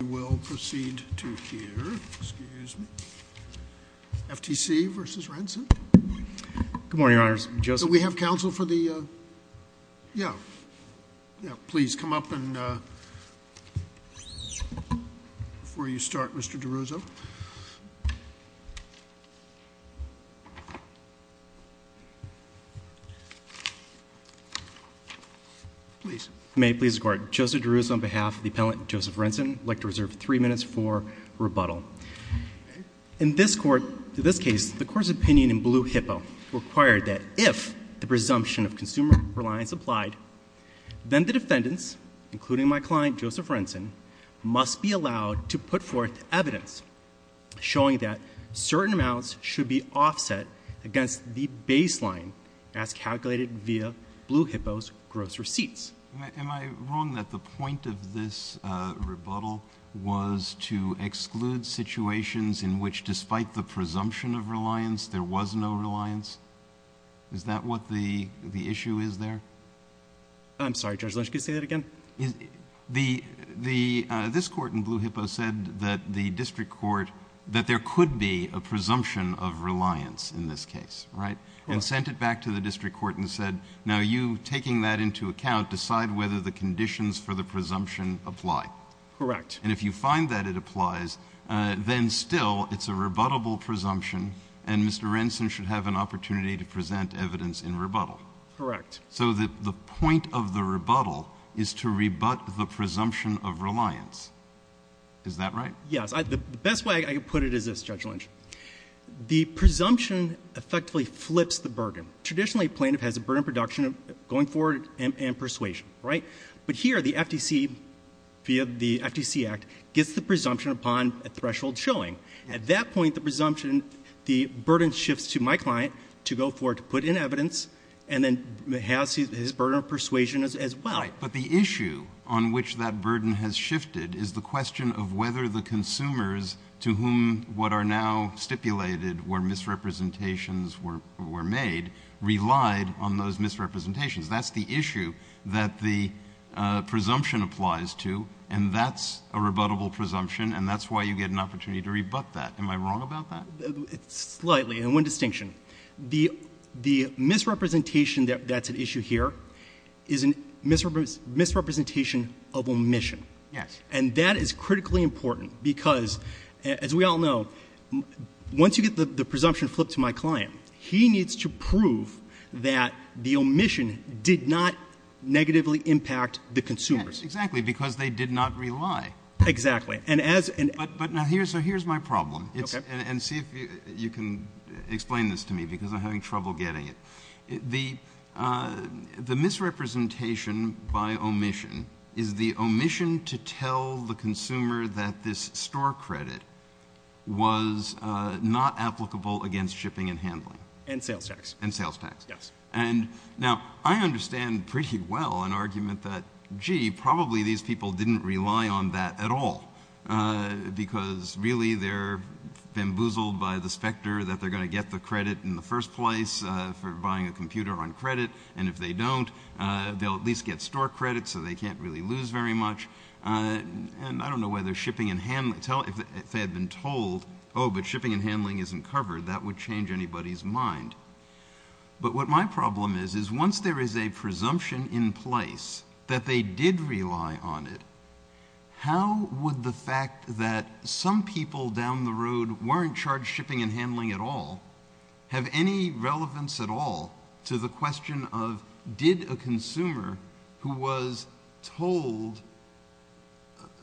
We will proceed to hear, excuse me, FTC v. Renson. Good morning, Your Honor. Do we have counsel for the, uh, yeah. Yeah, please come up and, uh, before you start, Mr. DeRuzzo. Please. May it please the Court. Joseph DeRuzzo on behalf of the Appellant Joseph Renson. I'd like to reserve three minutes for rebuttal. In this Court, in this case, the Court's opinion in Blue Hippo required that if the presumption of consumer reliance applied, then the defendants, including my client Joseph Renson, must be allowed to put forth evidence showing that certain amounts should be offset against the baseline as calculated via Blue Hippo's gross receipts. Am I wrong that the point of this, uh, rebuttal was to exclude situations in which, despite the presumption of reliance, there was no reliance? Is that what the, the issue is there? I'm sorry, Judge Lynch, could you say that again? The, the, uh, this Court in Blue Hippo said that the district court, that there could be a presumption of reliance in this case, right? And sent it back to the district court and said, now you, taking that into account, decide whether the conditions for the presumption apply. Correct. And if you find that it applies, uh, then still it's a rebuttable presumption and Mr. Renson should have an opportunity to present evidence in rebuttal. Correct. So the, the point of the rebuttal is to rebut the presumption of reliance. Is that right? Yes. The best way I could put it is this, Judge Lynch. The presumption effectively flips the burden. Traditionally, plaintiff has a burden of production going forward and, and persuasion, right? But here, the FTC, via the FTC Act, gets the presumption upon a threshold showing. At that point, the presumption, the burden shifts to my client to go forward to put in evidence and then has his, his burden of persuasion as, as well. Right. But the issue on which that burden has shifted is the question of whether the consumers to whom what are now stipulated were misrepresentations were, were made relied on those misrepresentations. That's the issue that the, uh, presumption applies to and that's a rebuttable presumption and that's why you get an opportunity to rebut that. Am I wrong about that? Slightly. And one distinction. The, the misrepresentation that, that's an issue here is a misrepresentation of omission. Yes. And that is critically important because, as we all know, once you get the, the presumption flipped to my client, he needs to prove that the omission did not negatively impact the consumers. Yes, exactly, because they did not rely. Exactly. And as an... But, but now here's, so here's my problem. Okay. And, and see if you can explain this to me because I'm having trouble getting it. The, uh, the misrepresentation by omission is the omission to tell the consumer that this store credit was, uh, not applicable against shipping and handling. And sales tax. And sales tax. Yes. And now I understand pretty well an argument that, gee, probably these people didn't rely on that at all, uh, because really they're bamboozled by the specter that they're going to get the credit in the first place, uh, for buying a computer on credit and if they don't, uh, they'll at least get store credit so they can't really lose very much. Uh, and I don't know whether shipping and handling, tell, if they had been told, oh, but shipping and handling isn't covered, that would change anybody's mind. But what my problem is, is once there is a presumption in place that they did rely on it, how would the fact that some people down the road weren't charged shipping and handling at all have any relevance at all to the question of did a consumer who was told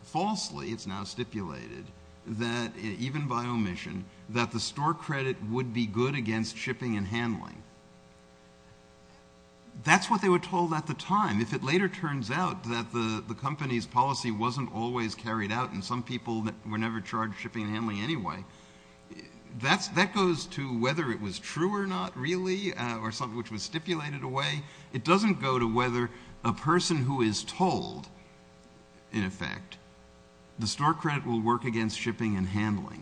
falsely, it's now stipulated, that, even by omission, that the store credit would be good against shipping and handling. That's what they were told at the time. If it later turns out that the, the company's policy wasn't always carried out and some people were never charged shipping and handling anyway, that's, that goes to whether it was true or not really, uh, or something which was stipulated away. It doesn't go to whether a person who is told, in effect, the store credit will work against shipping and handling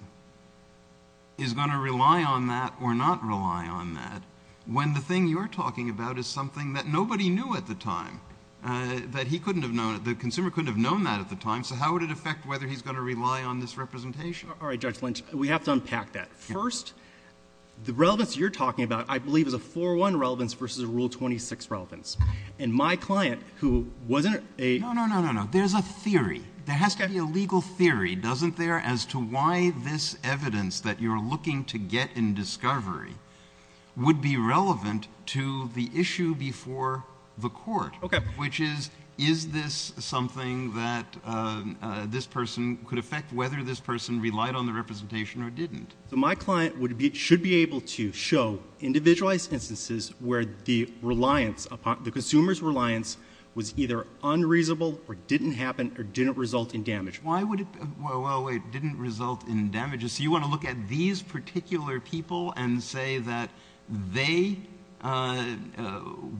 is going to rely on that or not rely on that when the thing you're talking about is something that nobody knew at the time, uh, that he couldn't have known, the consumer couldn't have known that at the time, so how would it affect whether he's going to rely on this representation? All right, Judge Lynch, we have to unpack that. First, the relevance you're talking about, I believe, is a 4-1 relevance versus a Rule 26 relevance. And my client, who wasn't a... No, no, no, no, no. There's a theory. There has to be a legal theory, doesn't there, as to why this evidence that you're looking to get in discovery would be relevant to the issue before the court. Okay. Which is, is this something that, uh, this person could affect whether this person relied on the representation or didn't? So my client would be... should be able to show individualized instances where the reliance upon... the consumer's reliance was either unreasonable or didn't happen or didn't result in damage. Why would it... Well, it didn't result in damages. So you want to look at these particular people and say that they, uh,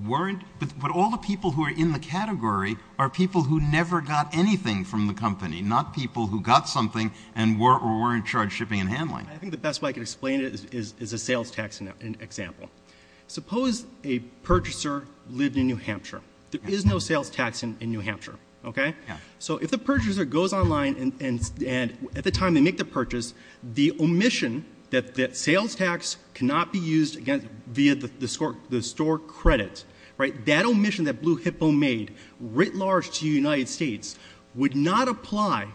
weren't... But all the people who are in the category are people who never got anything from the company, not people who got something and weren't charged shipping and handling. I think the best way I can explain it is a sales tax example. Suppose a purchaser lived in New Hampshire. There is no sales tax in New Hampshire, okay? So if the purchaser goes online and at the time they make the purchase, the omission that sales tax cannot be used via the store credit, right, that omission that Blue Hippo made writ large to the United States would not apply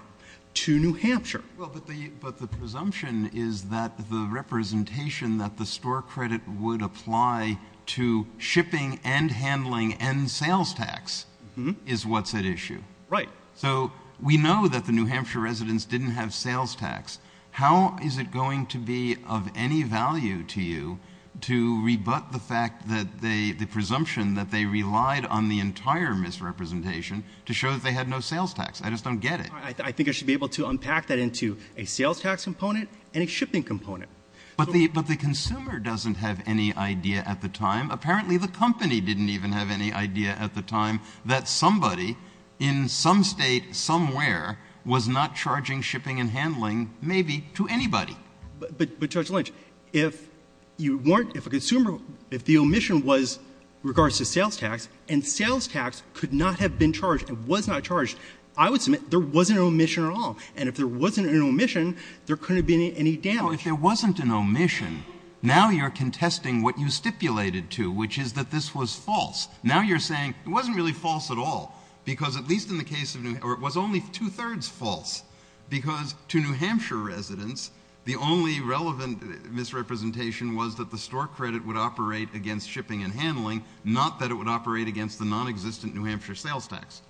to New Hampshire. Well, but the presumption is that the representation that the store credit would apply to shipping and handling and sales tax is what's at issue. Right. So we know that the New Hampshire residents didn't have sales tax. How is it going to be of any value to you to rebut the fact that they... the presumption that they relied on the entire misrepresentation to show that they had no sales tax? I just don't get it. I think I should be able to unpack that into a sales tax component and a shipping component. But the consumer doesn't have any idea at the time. Apparently the company didn't even have any idea at the time that somebody in some state somewhere was not charging shipping and handling, maybe, to anybody. But, Judge Lynch, if you weren't... if a consumer... if the omission was regards to sales tax and sales tax could not have been charged and was not charged, I would submit there wasn't an omission at all. And if there wasn't an omission, there couldn't have been any damage. Well, if there wasn't an omission, now you're contesting what you stipulated to, which is that this was false. Now you're saying it wasn't really false at all, because at least in the case of New... or it was only two-thirds false, because to New Hampshire residents, the only relevant misrepresentation was that the store credit would operate against shipping and handling, not that it would operate against the non-existent New Hampshire sales tax.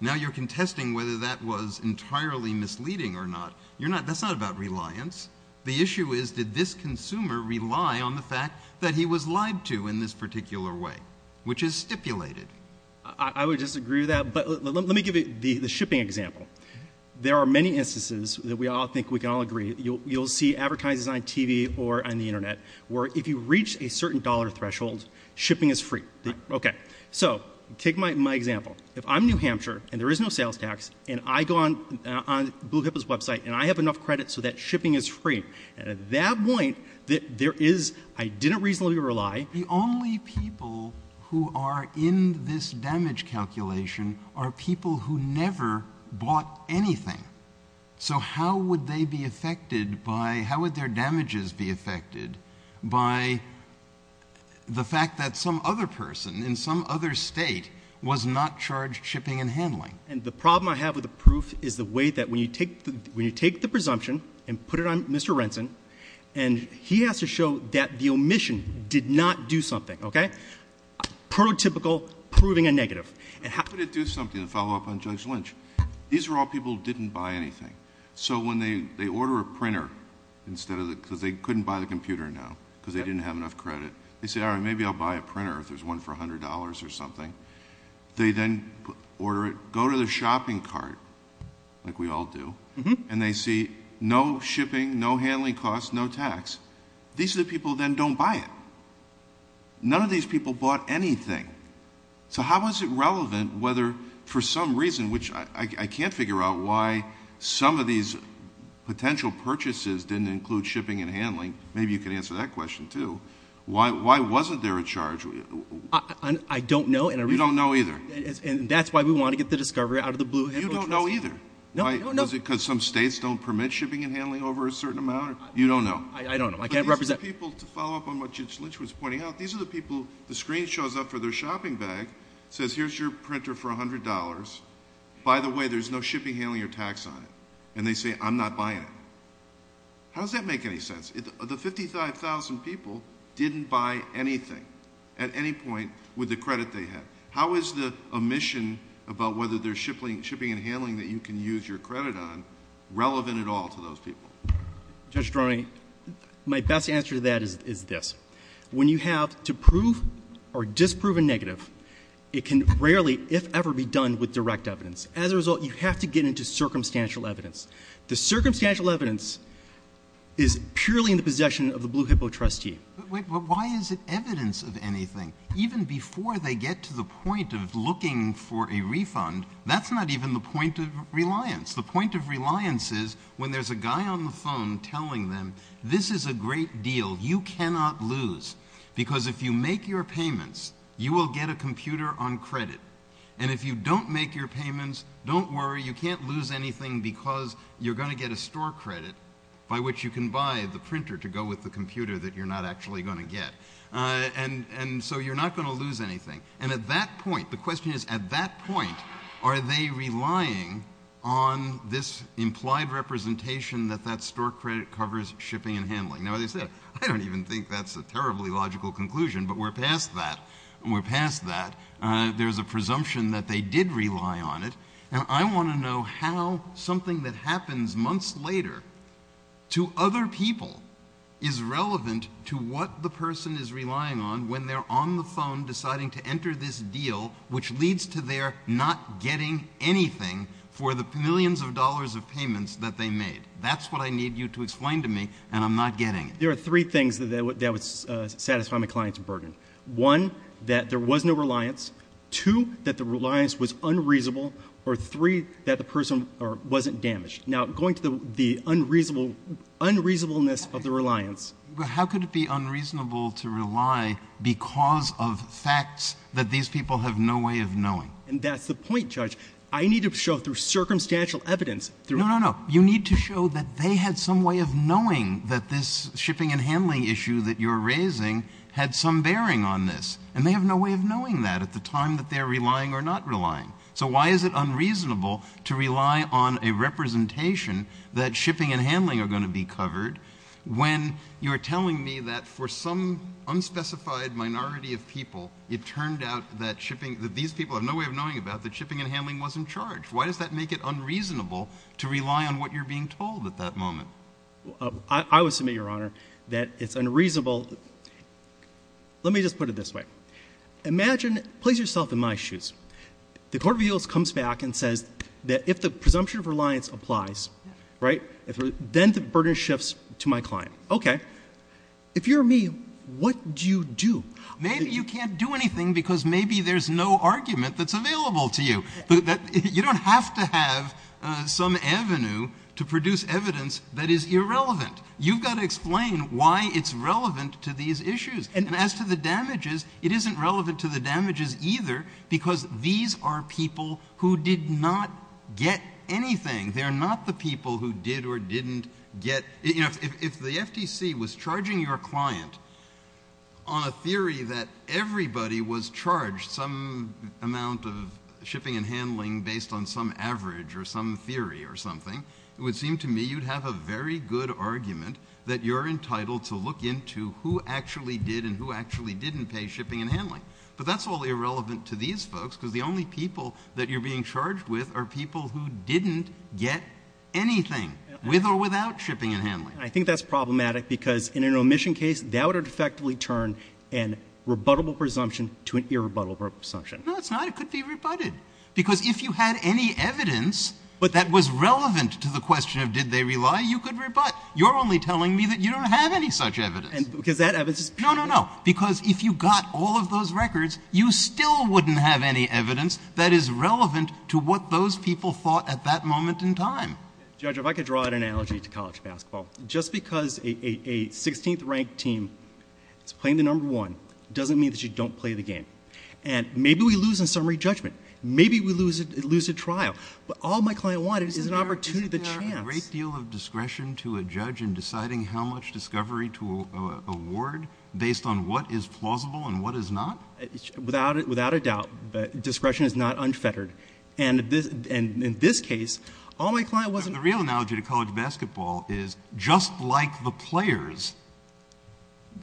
Now you're contesting whether that was entirely misleading or not. You're not... that's not about reliance. The issue is, did this consumer rely on the fact that he was lied to in this particular way, which is stipulated. I would disagree with that, but let me give you the shipping example. There are many instances that we all think we can all agree. You'll see advertisements on TV or on the Internet where if you reach a certain dollar threshold, shipping is free. Okay. So take my example. If I'm New Hampshire, and there is no sales tax, and I go on Blue Hippo's website, and I have enough credit so that shipping is free, and at that point, there is... I didn't reasonably rely. The only people who are in this damage calculation are people who never bought anything. So how would they be affected by... how would their damages be affected by the fact that some other person in some other state was not charged shipping and handling? And the problem I have with the proof is the way that when you take... when you take the presumption and put it on Mr. Renson, and he has to show that the omission did not do something, okay? Prototypical proving a negative. How could it do something to follow up on Judge Lynch? These are all people who didn't buy anything. So when they order a printer, instead of the... because they didn't have enough credit, they say, all right, maybe I'll buy a printer if there's one for $100 or something. They then order it, go to the shopping cart, like we all do, and they see no shipping, no handling costs, no tax. These are the people who then don't buy it. None of these people bought anything. So how is it relevant which I can't figure out why some of these potential purchases didn't include shipping and handling. Maybe you can answer that question too. Why wasn't there a charge? I don't know. You don't know either. And that's why we want to get the discovery out of the blue. You don't know either. No, I don't know. Is it because some states don't permit shipping and handling over a certain amount? You don't know. I don't know. I can't represent... These are the people, to follow up on what Judge Lynch was pointing out, these are the people, the screen shows up for their shopping bag, says here's your printer for $100. By the way, there's no shipping, handling, or tax on it. And they say, I'm not buying it. How does that make any sense? The 55,000 people didn't buy anything at any point with the credit they had. How is the omission about whether there's shipping and handling that you can use your credit on relevant at all to those people? Judge Droney, my best answer to that is this. When you have to prove or disprove a negative, it can rarely, if ever, be done with direct evidence. As a result, you have to get into circumstantial evidence. The circumstantial evidence is purely in the possession of the Blue Hippo trustee. Wait, but why is it evidence of anything? Even before they get to the point of looking for a refund, that's not even the point of reliance. The point of reliance is when there's a guy on the phone telling them, this is a great deal, you cannot lose. Because if you make your payments, you will get a computer on credit. And if you don't make your payments, don't worry, you can't lose anything because you're going to get a store credit by which you can buy the printer to go with the computer that you're not actually going to get. And so you're not going to lose anything. And at that point, the question is, at that point, are they relying on this implied representation that that store credit covers shipping and handling? Now, as I said, I don't even think that's a terribly logical conclusion, but we're past that. There's a presumption that they did rely on it. And I want to know how something that happens months later to other people is relevant to what the person is relying on when they're on the phone deciding to enter this deal, which leads to their not getting anything for the millions of dollars of payments that they made. That's what I need you to explain to me, and I'm not getting it. There are three things that would satisfy my client's burden. One, that there was no reliance. Two, that the reliance was unreasonable. Or three, that the person wasn't damaged. Now, going to the unreasonableness of the reliance... How could it be unreasonable to rely because of facts that these people have no way of knowing? And that's the point, Judge. I need to show through circumstantial evidence... No, no, no, you need to show that they had some way of knowing that this shipping and handling issue that you're raising had some bearing on this. And they have no way of knowing that at the time that they're relying or not relying. So why is it unreasonable to rely on a representation that shipping and handling are going to be covered when you're telling me that for some unspecified minority of people it turned out that these people have no way of knowing about that shipping and handling wasn't charged? Why does that make it unreasonable to rely on what you're being told at that moment? I would submit, Your Honor, that it's unreasonable... Let me just put it this way. Imagine... place yourself in my shoes. The court of appeals comes back and says that if the presumption of reliance applies, right, then the burden shifts to my client. Okay. If you're me, what do you do? Maybe you can't do anything because maybe there's no argument that's available to you. You don't have to have some avenue to produce evidence that is irrelevant. You've got to explain why it's relevant to these issues. And as to the damages, it isn't relevant to the damages either because these are people who did not get anything. They're not the people who did or didn't get... You know, if the FTC was charging your client on a theory that everybody was charged some amount of shipping and handling based on some average or some theory or something, it would seem to me you'd have a very good argument that you're entitled to look into who actually did and who actually didn't pay shipping and handling. But that's all irrelevant to these folks because the only people that you're being charged with are people who didn't get anything with or without shipping and handling. I think that's problematic because in an omission case, that would effectively turn a rebuttable presumption to an irrebuttable presumption. No, it's not. It could be rebutted. Because if you had any evidence that was relevant to the question of did they rely, you could rebut. You're only telling me that you don't have any such evidence. Because that evidence is... No, no, no. Because if you got all of those records, you still wouldn't have any evidence that is relevant to what those people thought at that moment in time. Judge, if I could draw an analogy to college basketball. Just because a 16th-ranked team is playing the No. 1 doesn't mean that you don't play the game. And maybe we lose in summary judgment. Maybe we lose at trial. But all my client wanted is an opportunity, the chance... To give discretion to a judge in deciding how much discovery to award based on what is plausible and what is not? Without a doubt, discretion is not unfettered. And in this case, all my client wasn't... The real analogy to college basketball is just like the players,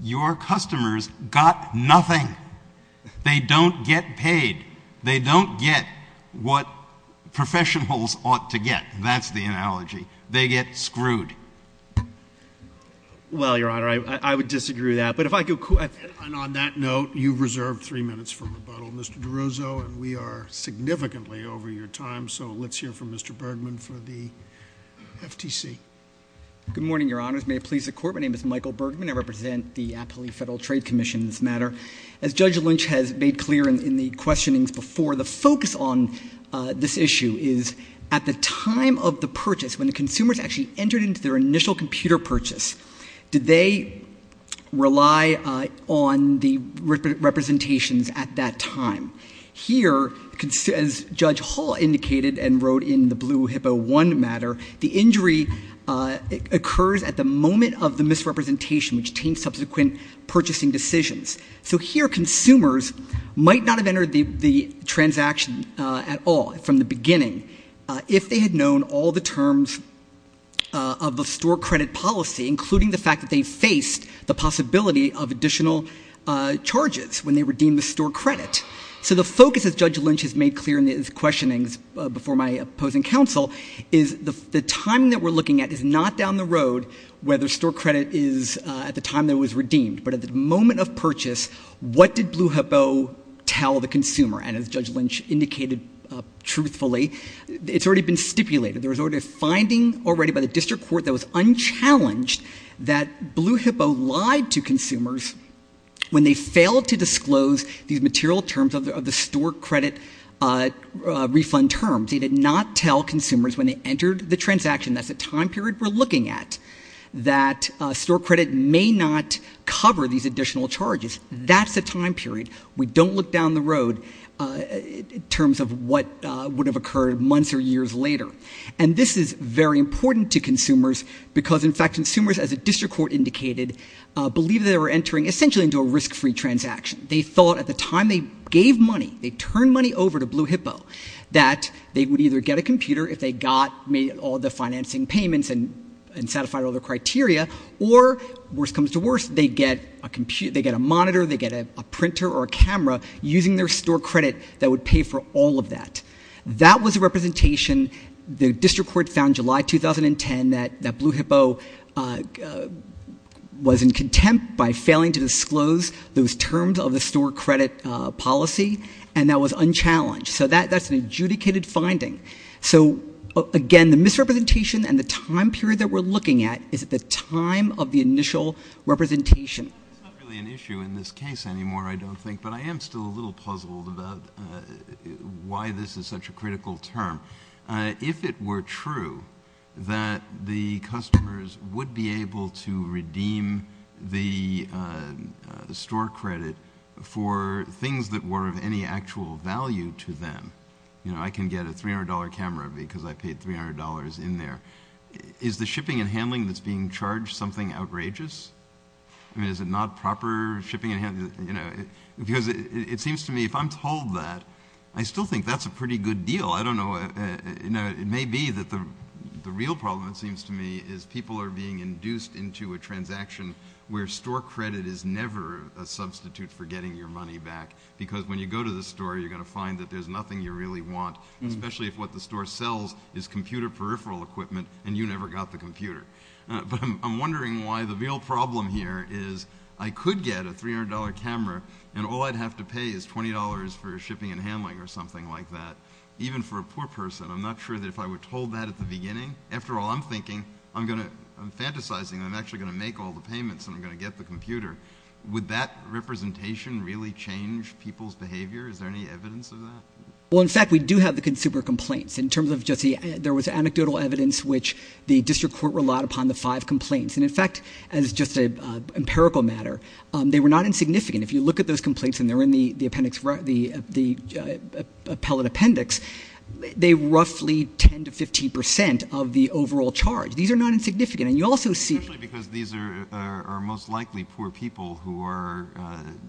your customers got nothing. They don't get paid. They don't get what professionals ought to get. That's the analogy. They get screwed. Well, Your Honor, I would disagree with that. But if I could... And on that note, you've reserved three minutes for rebuttal. Mr. DeRuzzo, we are significantly over your time, so let's hear from Mr. Bergman for the FTC. Good morning, Your Honors. May it please the Court, my name is Michael Bergman. I represent the Appley Federal Trade Commission in this matter. As Judge Lynch has made clear in the questionings before, the focus on this issue is at the time of the purchase, when the consumers actually entered into their initial computer purchase, did they rely on the representations at that time? Here, as Judge Hall indicated and wrote in the Blue Hippo I matter, the injury occurs at the moment of the misrepresentation, which taints subsequent purchasing decisions. So here consumers might not have entered the transaction at all from the beginning if they had known all the terms of the store credit policy, including the fact that they faced the possibility of additional charges when they redeemed the store credit. So the focus, as Judge Lynch has made clear in his questionings before my opposing counsel, is the time that we're looking at is not down the road whether store credit is at the time that it was redeemed, but at the moment of purchase, what did Blue Hippo tell the consumer? And as Judge Lynch indicated truthfully, it's already been stipulated, there was already a finding already by the district court that was unchallenged that Blue Hippo lied to consumers when they failed to disclose these material terms of the store credit refund terms. They did not tell consumers when they entered the transaction, that's the time period we're looking at, that store credit may not cover these additional charges. That's the time period. We don't look down the road in terms of what would have occurred months or years later. And this is very important to consumers because, in fact, consumers, as the district court indicated, believe they were entering essentially into a risk-free transaction. They thought at the time they gave money, they turned money over to Blue Hippo, that they would either get a computer if they got all the financing payments and satisfied all their criteria, or, worst comes to worst, they get a monitor, they get a printer or a camera, using their store credit that would pay for all of that. That was a representation the district court found July 2010 that Blue Hippo was in contempt by failing to disclose those terms of the store credit policy, and that was unchallenged. So that's an adjudicated finding. So, again, the misrepresentation and the time period that we're looking at is at the time of the initial representation. It's not really an issue in this case anymore, I don't think, but I am still a little puzzled about why this is such a critical term. If it were true that the customers would be able to redeem the store credit for things that were of any actual value to them... You know, I can get a $300 camera because I paid $300 in there. Is the shipping and handling that's being charged something outrageous? I mean, is it not proper shipping and handling? Because it seems to me, if I'm told that, I still think that's a pretty good deal. I don't know. It may be that the real problem, it seems to me, is people are being induced into a transaction where store credit is never a substitute for getting your money back, because when you go to the store, you're going to find that there's nothing you really want, especially if what the store sells is computer peripheral equipment and you never got the computer. But I'm wondering why the real problem here is I could get a $300 camera, and all I'd have to pay is $20 for shipping and handling or something like that, even for a poor person. I'm not sure that if I were told that at the beginning... After all, I'm thinking, I'm fantasizing I'm actually going to make all the payments and I'm going to get the computer. Would that representation really change people's behavior? Is there any evidence of that? Well, in fact, we do have the consumer complaints. In terms of just the anecdotal evidence which the district court relied upon, the five complaints, and in fact, as just an empirical matter, they were not insignificant. If you look at those complaints and they're in the appellate appendix, they're roughly 10% to 15% of the overall charge. These are not insignificant, and you also see... Especially because these are most likely poor people who are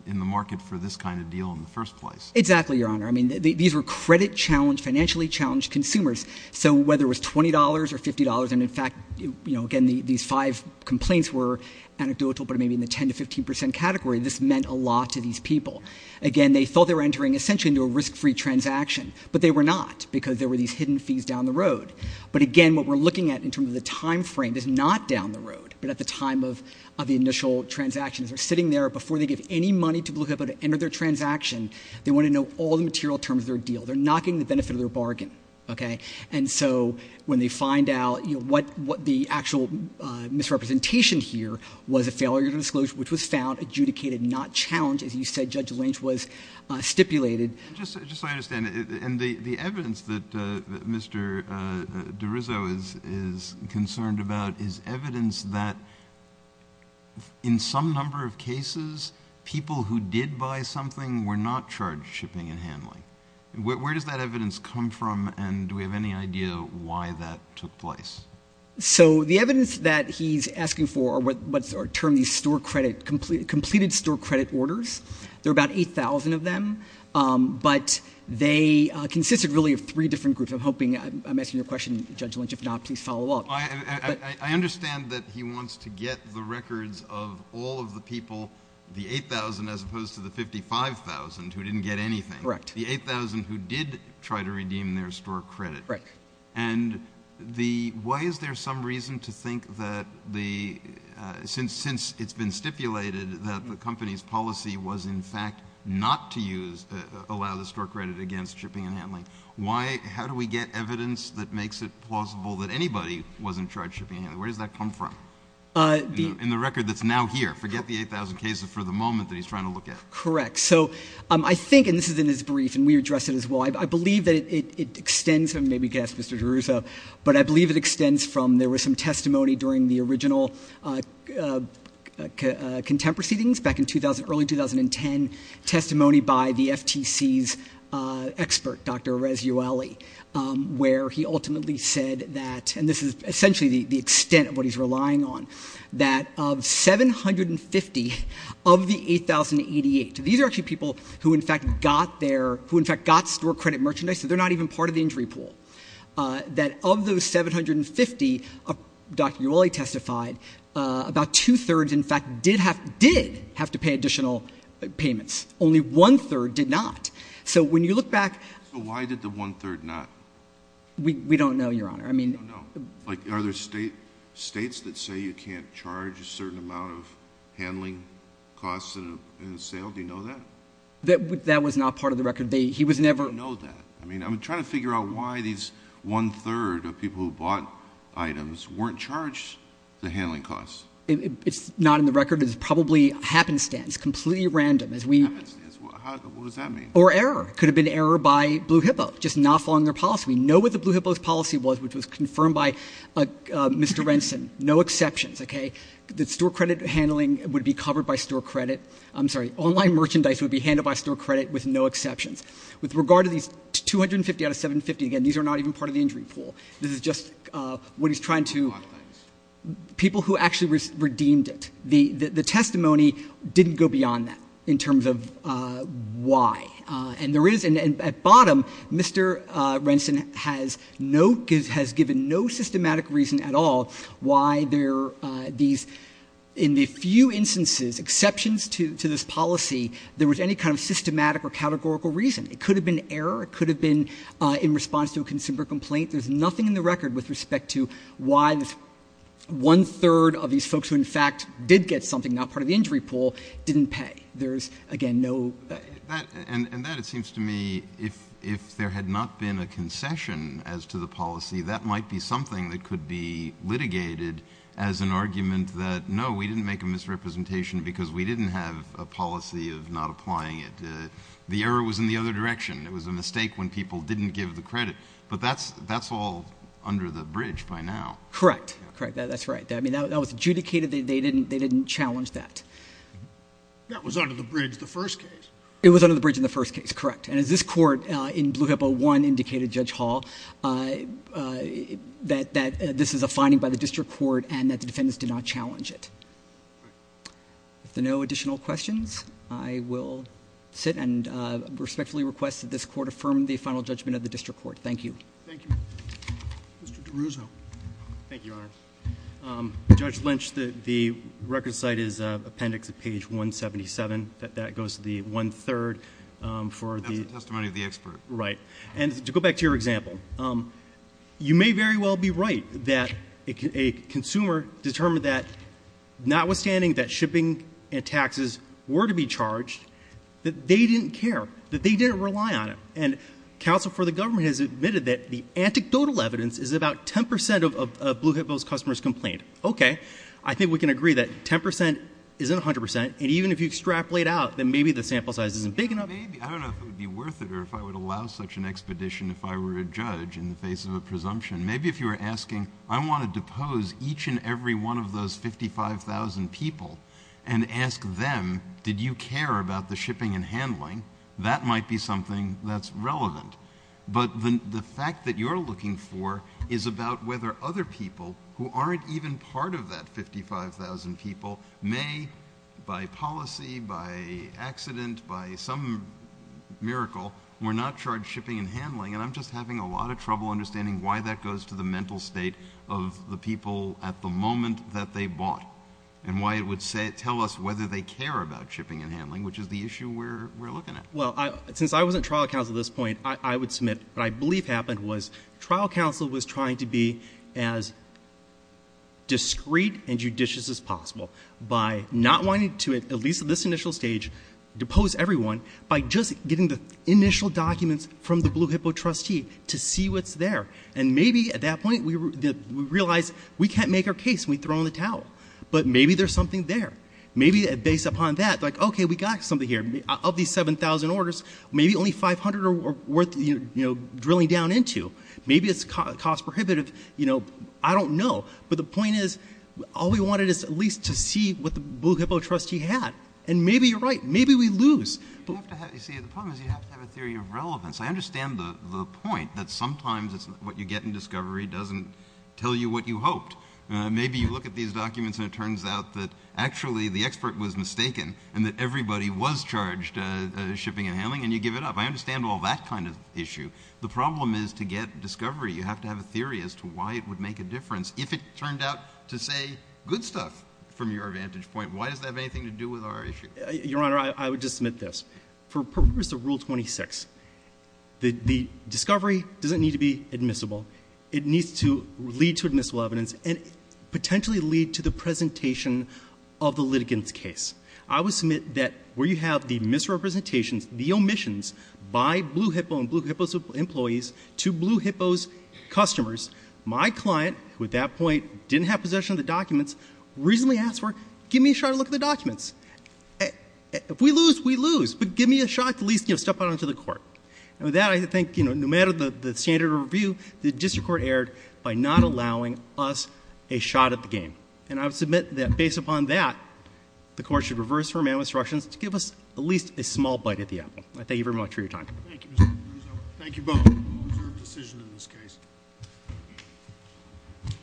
in the market for this kind of deal in the first place. Exactly, Your Honor. I mean, these were credit-challenged, financially-challenged consumers. So whether it was $20 or $50, and in fact, again, these five complaints were anecdotal, but maybe in the 10% to 15% category, this meant a lot to these people. Again, they thought they were entering, essentially, into a risk-free transaction, but they were not because there were these hidden fees down the road. But again, what we're looking at in terms of the time frame is not down the road, but at the time of the initial transaction. They're sitting there, before they give any money to look up at the end of their transaction, they want to know all the material terms of their deal. They're not getting the benefit of their bargain, OK? And so when they find out, you know, what the actual misrepresentation here was, a failure to disclose, which was found adjudicated, not challenged, as you said, Judge Lynch, was stipulated... Just so I understand, and the evidence that Mr DiRizzo is concerned about is evidence that, in some number of cases, people who did buy something were not charged shipping and handling. Where does that evidence come from, and do we have any idea why that took place? So the evidence that he's asking for are what's termed these completed store credit orders. There are about 8,000 of them, but they consisted really of three different groups. I'm hoping... I'm asking you a question, Judge Lynch. If not, please follow up. I understand that he wants to get the records of all of the people, the 8,000, as opposed to the 55,000, who didn't get anything. The 8,000 who did try to redeem their store credit. And why is there some reason to think that the... Since it's been stipulated that the company's policy was in fact not to allow the store credit against shipping and handling, how do we get evidence that makes it plausible that anybody wasn't charged shipping and handling? Where does that come from? In the record that's now here. Forget the 8,000 cases for the moment that he's trying to look at. Correct. So I think, and this is in his brief, and we addressed it as well, I believe that it extends from... Maybe you can ask Mr. DeRusso. But I believe it extends from there was some testimony during the original contempt proceedings back in early 2010, testimony by the FTC's expert, Dr. Rez Ueli, where he ultimately said that... And this is essentially the extent of what he's relying on, that of 750 of the 8,088... These are actually people who in fact got their... Who in fact got store credit merchandise, so they're not even part of the injury pool. That of those 750, Dr. Ueli testified, about two-thirds in fact did have to pay additional payments. Only one-third did not. So when you look back... So why did the one-third not? We don't know, Your Honor. We don't know. Like, are there states that say you can't charge a certain amount of handling costs in a sale? Do you know that? That was not part of the record. He was never... We don't know that. I mean, I'm trying to figure out why these one-third of people who bought items weren't charged the handling costs. It's not in the record. It's probably happenstance, completely random. Happenstance? What does that mean? Or error. It could have been error by Blue Hippo, just not following their policy. We know what the Blue Hippo's policy was, which was confirmed by Mr. Renson. No exceptions, okay? The store credit handling would be covered by store credit. I'm sorry. Online merchandise would be handled by store credit with no exceptions. With regard to these 250 out of 750, again, these are not even part of the injury pool. This is just what he's trying to... People who actually redeemed it. The testimony didn't go beyond that in terms of why. At bottom, Mr. Renson has given no systematic reason at all why there are these, in the few instances, exceptions to this policy, there was any kind of systematic or categorical reason. It could have been error. It could have been in response to a consumer complaint. There's nothing in the record with respect to why this one-third of these folks who, in fact, did get something, not part of the injury pool, didn't pay. There's, again, no... And that, it seems to me, if there had not been a concession as to the policy, that might be something that could be litigated as an argument that, no, we didn't make a misrepresentation because we didn't have a policy of not applying it. The error was in the other direction. It was a mistake when people didn't give the credit. But that's all under the bridge by now. Correct. That's right. That was adjudicated. They didn't challenge that. That was under the bridge in the first case. It was under the bridge in the first case, correct. And as this court in Blue Hippo 1 indicated, Judge Hall, that this is a finding by the district court and that the defendants did not challenge it. With no additional questions, I will sit and respectfully request that this court affirm the final judgment of the district court. Thank you. Mr. DeRuzo. Thank you, Your Honor. Judge Lynch, the record site is appendix at page 177. That goes to the one-third for the... That's the testimony of the expert. Right. And to go back to your example, you may very well be right that a consumer determined that, notwithstanding that shipping and taxes were to be charged, that they didn't care, that they didn't rely on it. And counsel for the government has admitted that the anecdotal evidence is about 10% of Blue Hippo's customers complained. Okay. I think we can agree that 10% isn't 100%. And even if you extrapolate out, then maybe the sample size isn't big enough. I don't know if it would be worth it or if I would allow such an expedition if I were a judge in the face of a presumption. Maybe if you were asking, I want to depose each and every one of those 55,000 people and ask them, did you care about the shipping and handling, that might be something that's relevant. But the fact that you're looking for is about whether other people who aren't even part of that 55,000 people may, by policy, by accident, by some miracle, were not charged shipping and handling. And I'm just having a lot of trouble understanding why that goes to the mental state of the people at the moment that they bought and why it would tell us whether they care about shipping and handling, which is the issue we're looking at. Well, since I wasn't trial counsel at this point, I would submit what I believe happened was trial counsel was trying to be as discreet and judicious as possible by not wanting to, at least at this initial stage, depose everyone by just getting the initial documents from the Blue Hippo trustee to see what's there. And maybe at that point we realized we can't make our case and we throw in the towel. But maybe there's something there. Maybe based upon that, like, okay, we got something here. Of these 7,000 orders, maybe only 500 are worth drilling down into. Maybe it's cost prohibitive. I don't know. But the point is all we wanted is at least to see what the Blue Hippo trustee had. And maybe you're right. Maybe we lose. You see, the problem is you have to have a theory of relevance. I understand the point that sometimes what you get in discovery doesn't tell you what you hoped. Maybe you look at these documents and it turns out that actually the expert was mistaken and that everybody was charged shipping and handling, and you give it up. I understand all that kind of issue. The problem is to get discovery you have to have a theory as to why it would make a difference. If it turned out to say good stuff from your vantage point, why does that have anything to do with our issue? Your Honor, I would just submit this. For purpose of Rule 26, the discovery doesn't need to be admissible. It needs to lead to admissible evidence and potentially lead to the presentation of the litigant's case. I would submit that where you have the misrepresentations, the omissions by Blue Hippo and Blue Hippo's employees to Blue Hippo's customers, my client, who at that point didn't have possession of the documents, reasonably asked for, give me a shot at looking at the documents. If we lose, we lose. But give me a shot to at least step out onto the court. And with that, I think no matter the standard of review, the district court erred by not allowing us a shot at the game. And I would submit that based upon that, the court should reverse her man with instructions to give us at least a small bite at the apple. I thank you very much for your time. Thank you, Mr. Caruso. Thank you both. We'll observe decision in this case.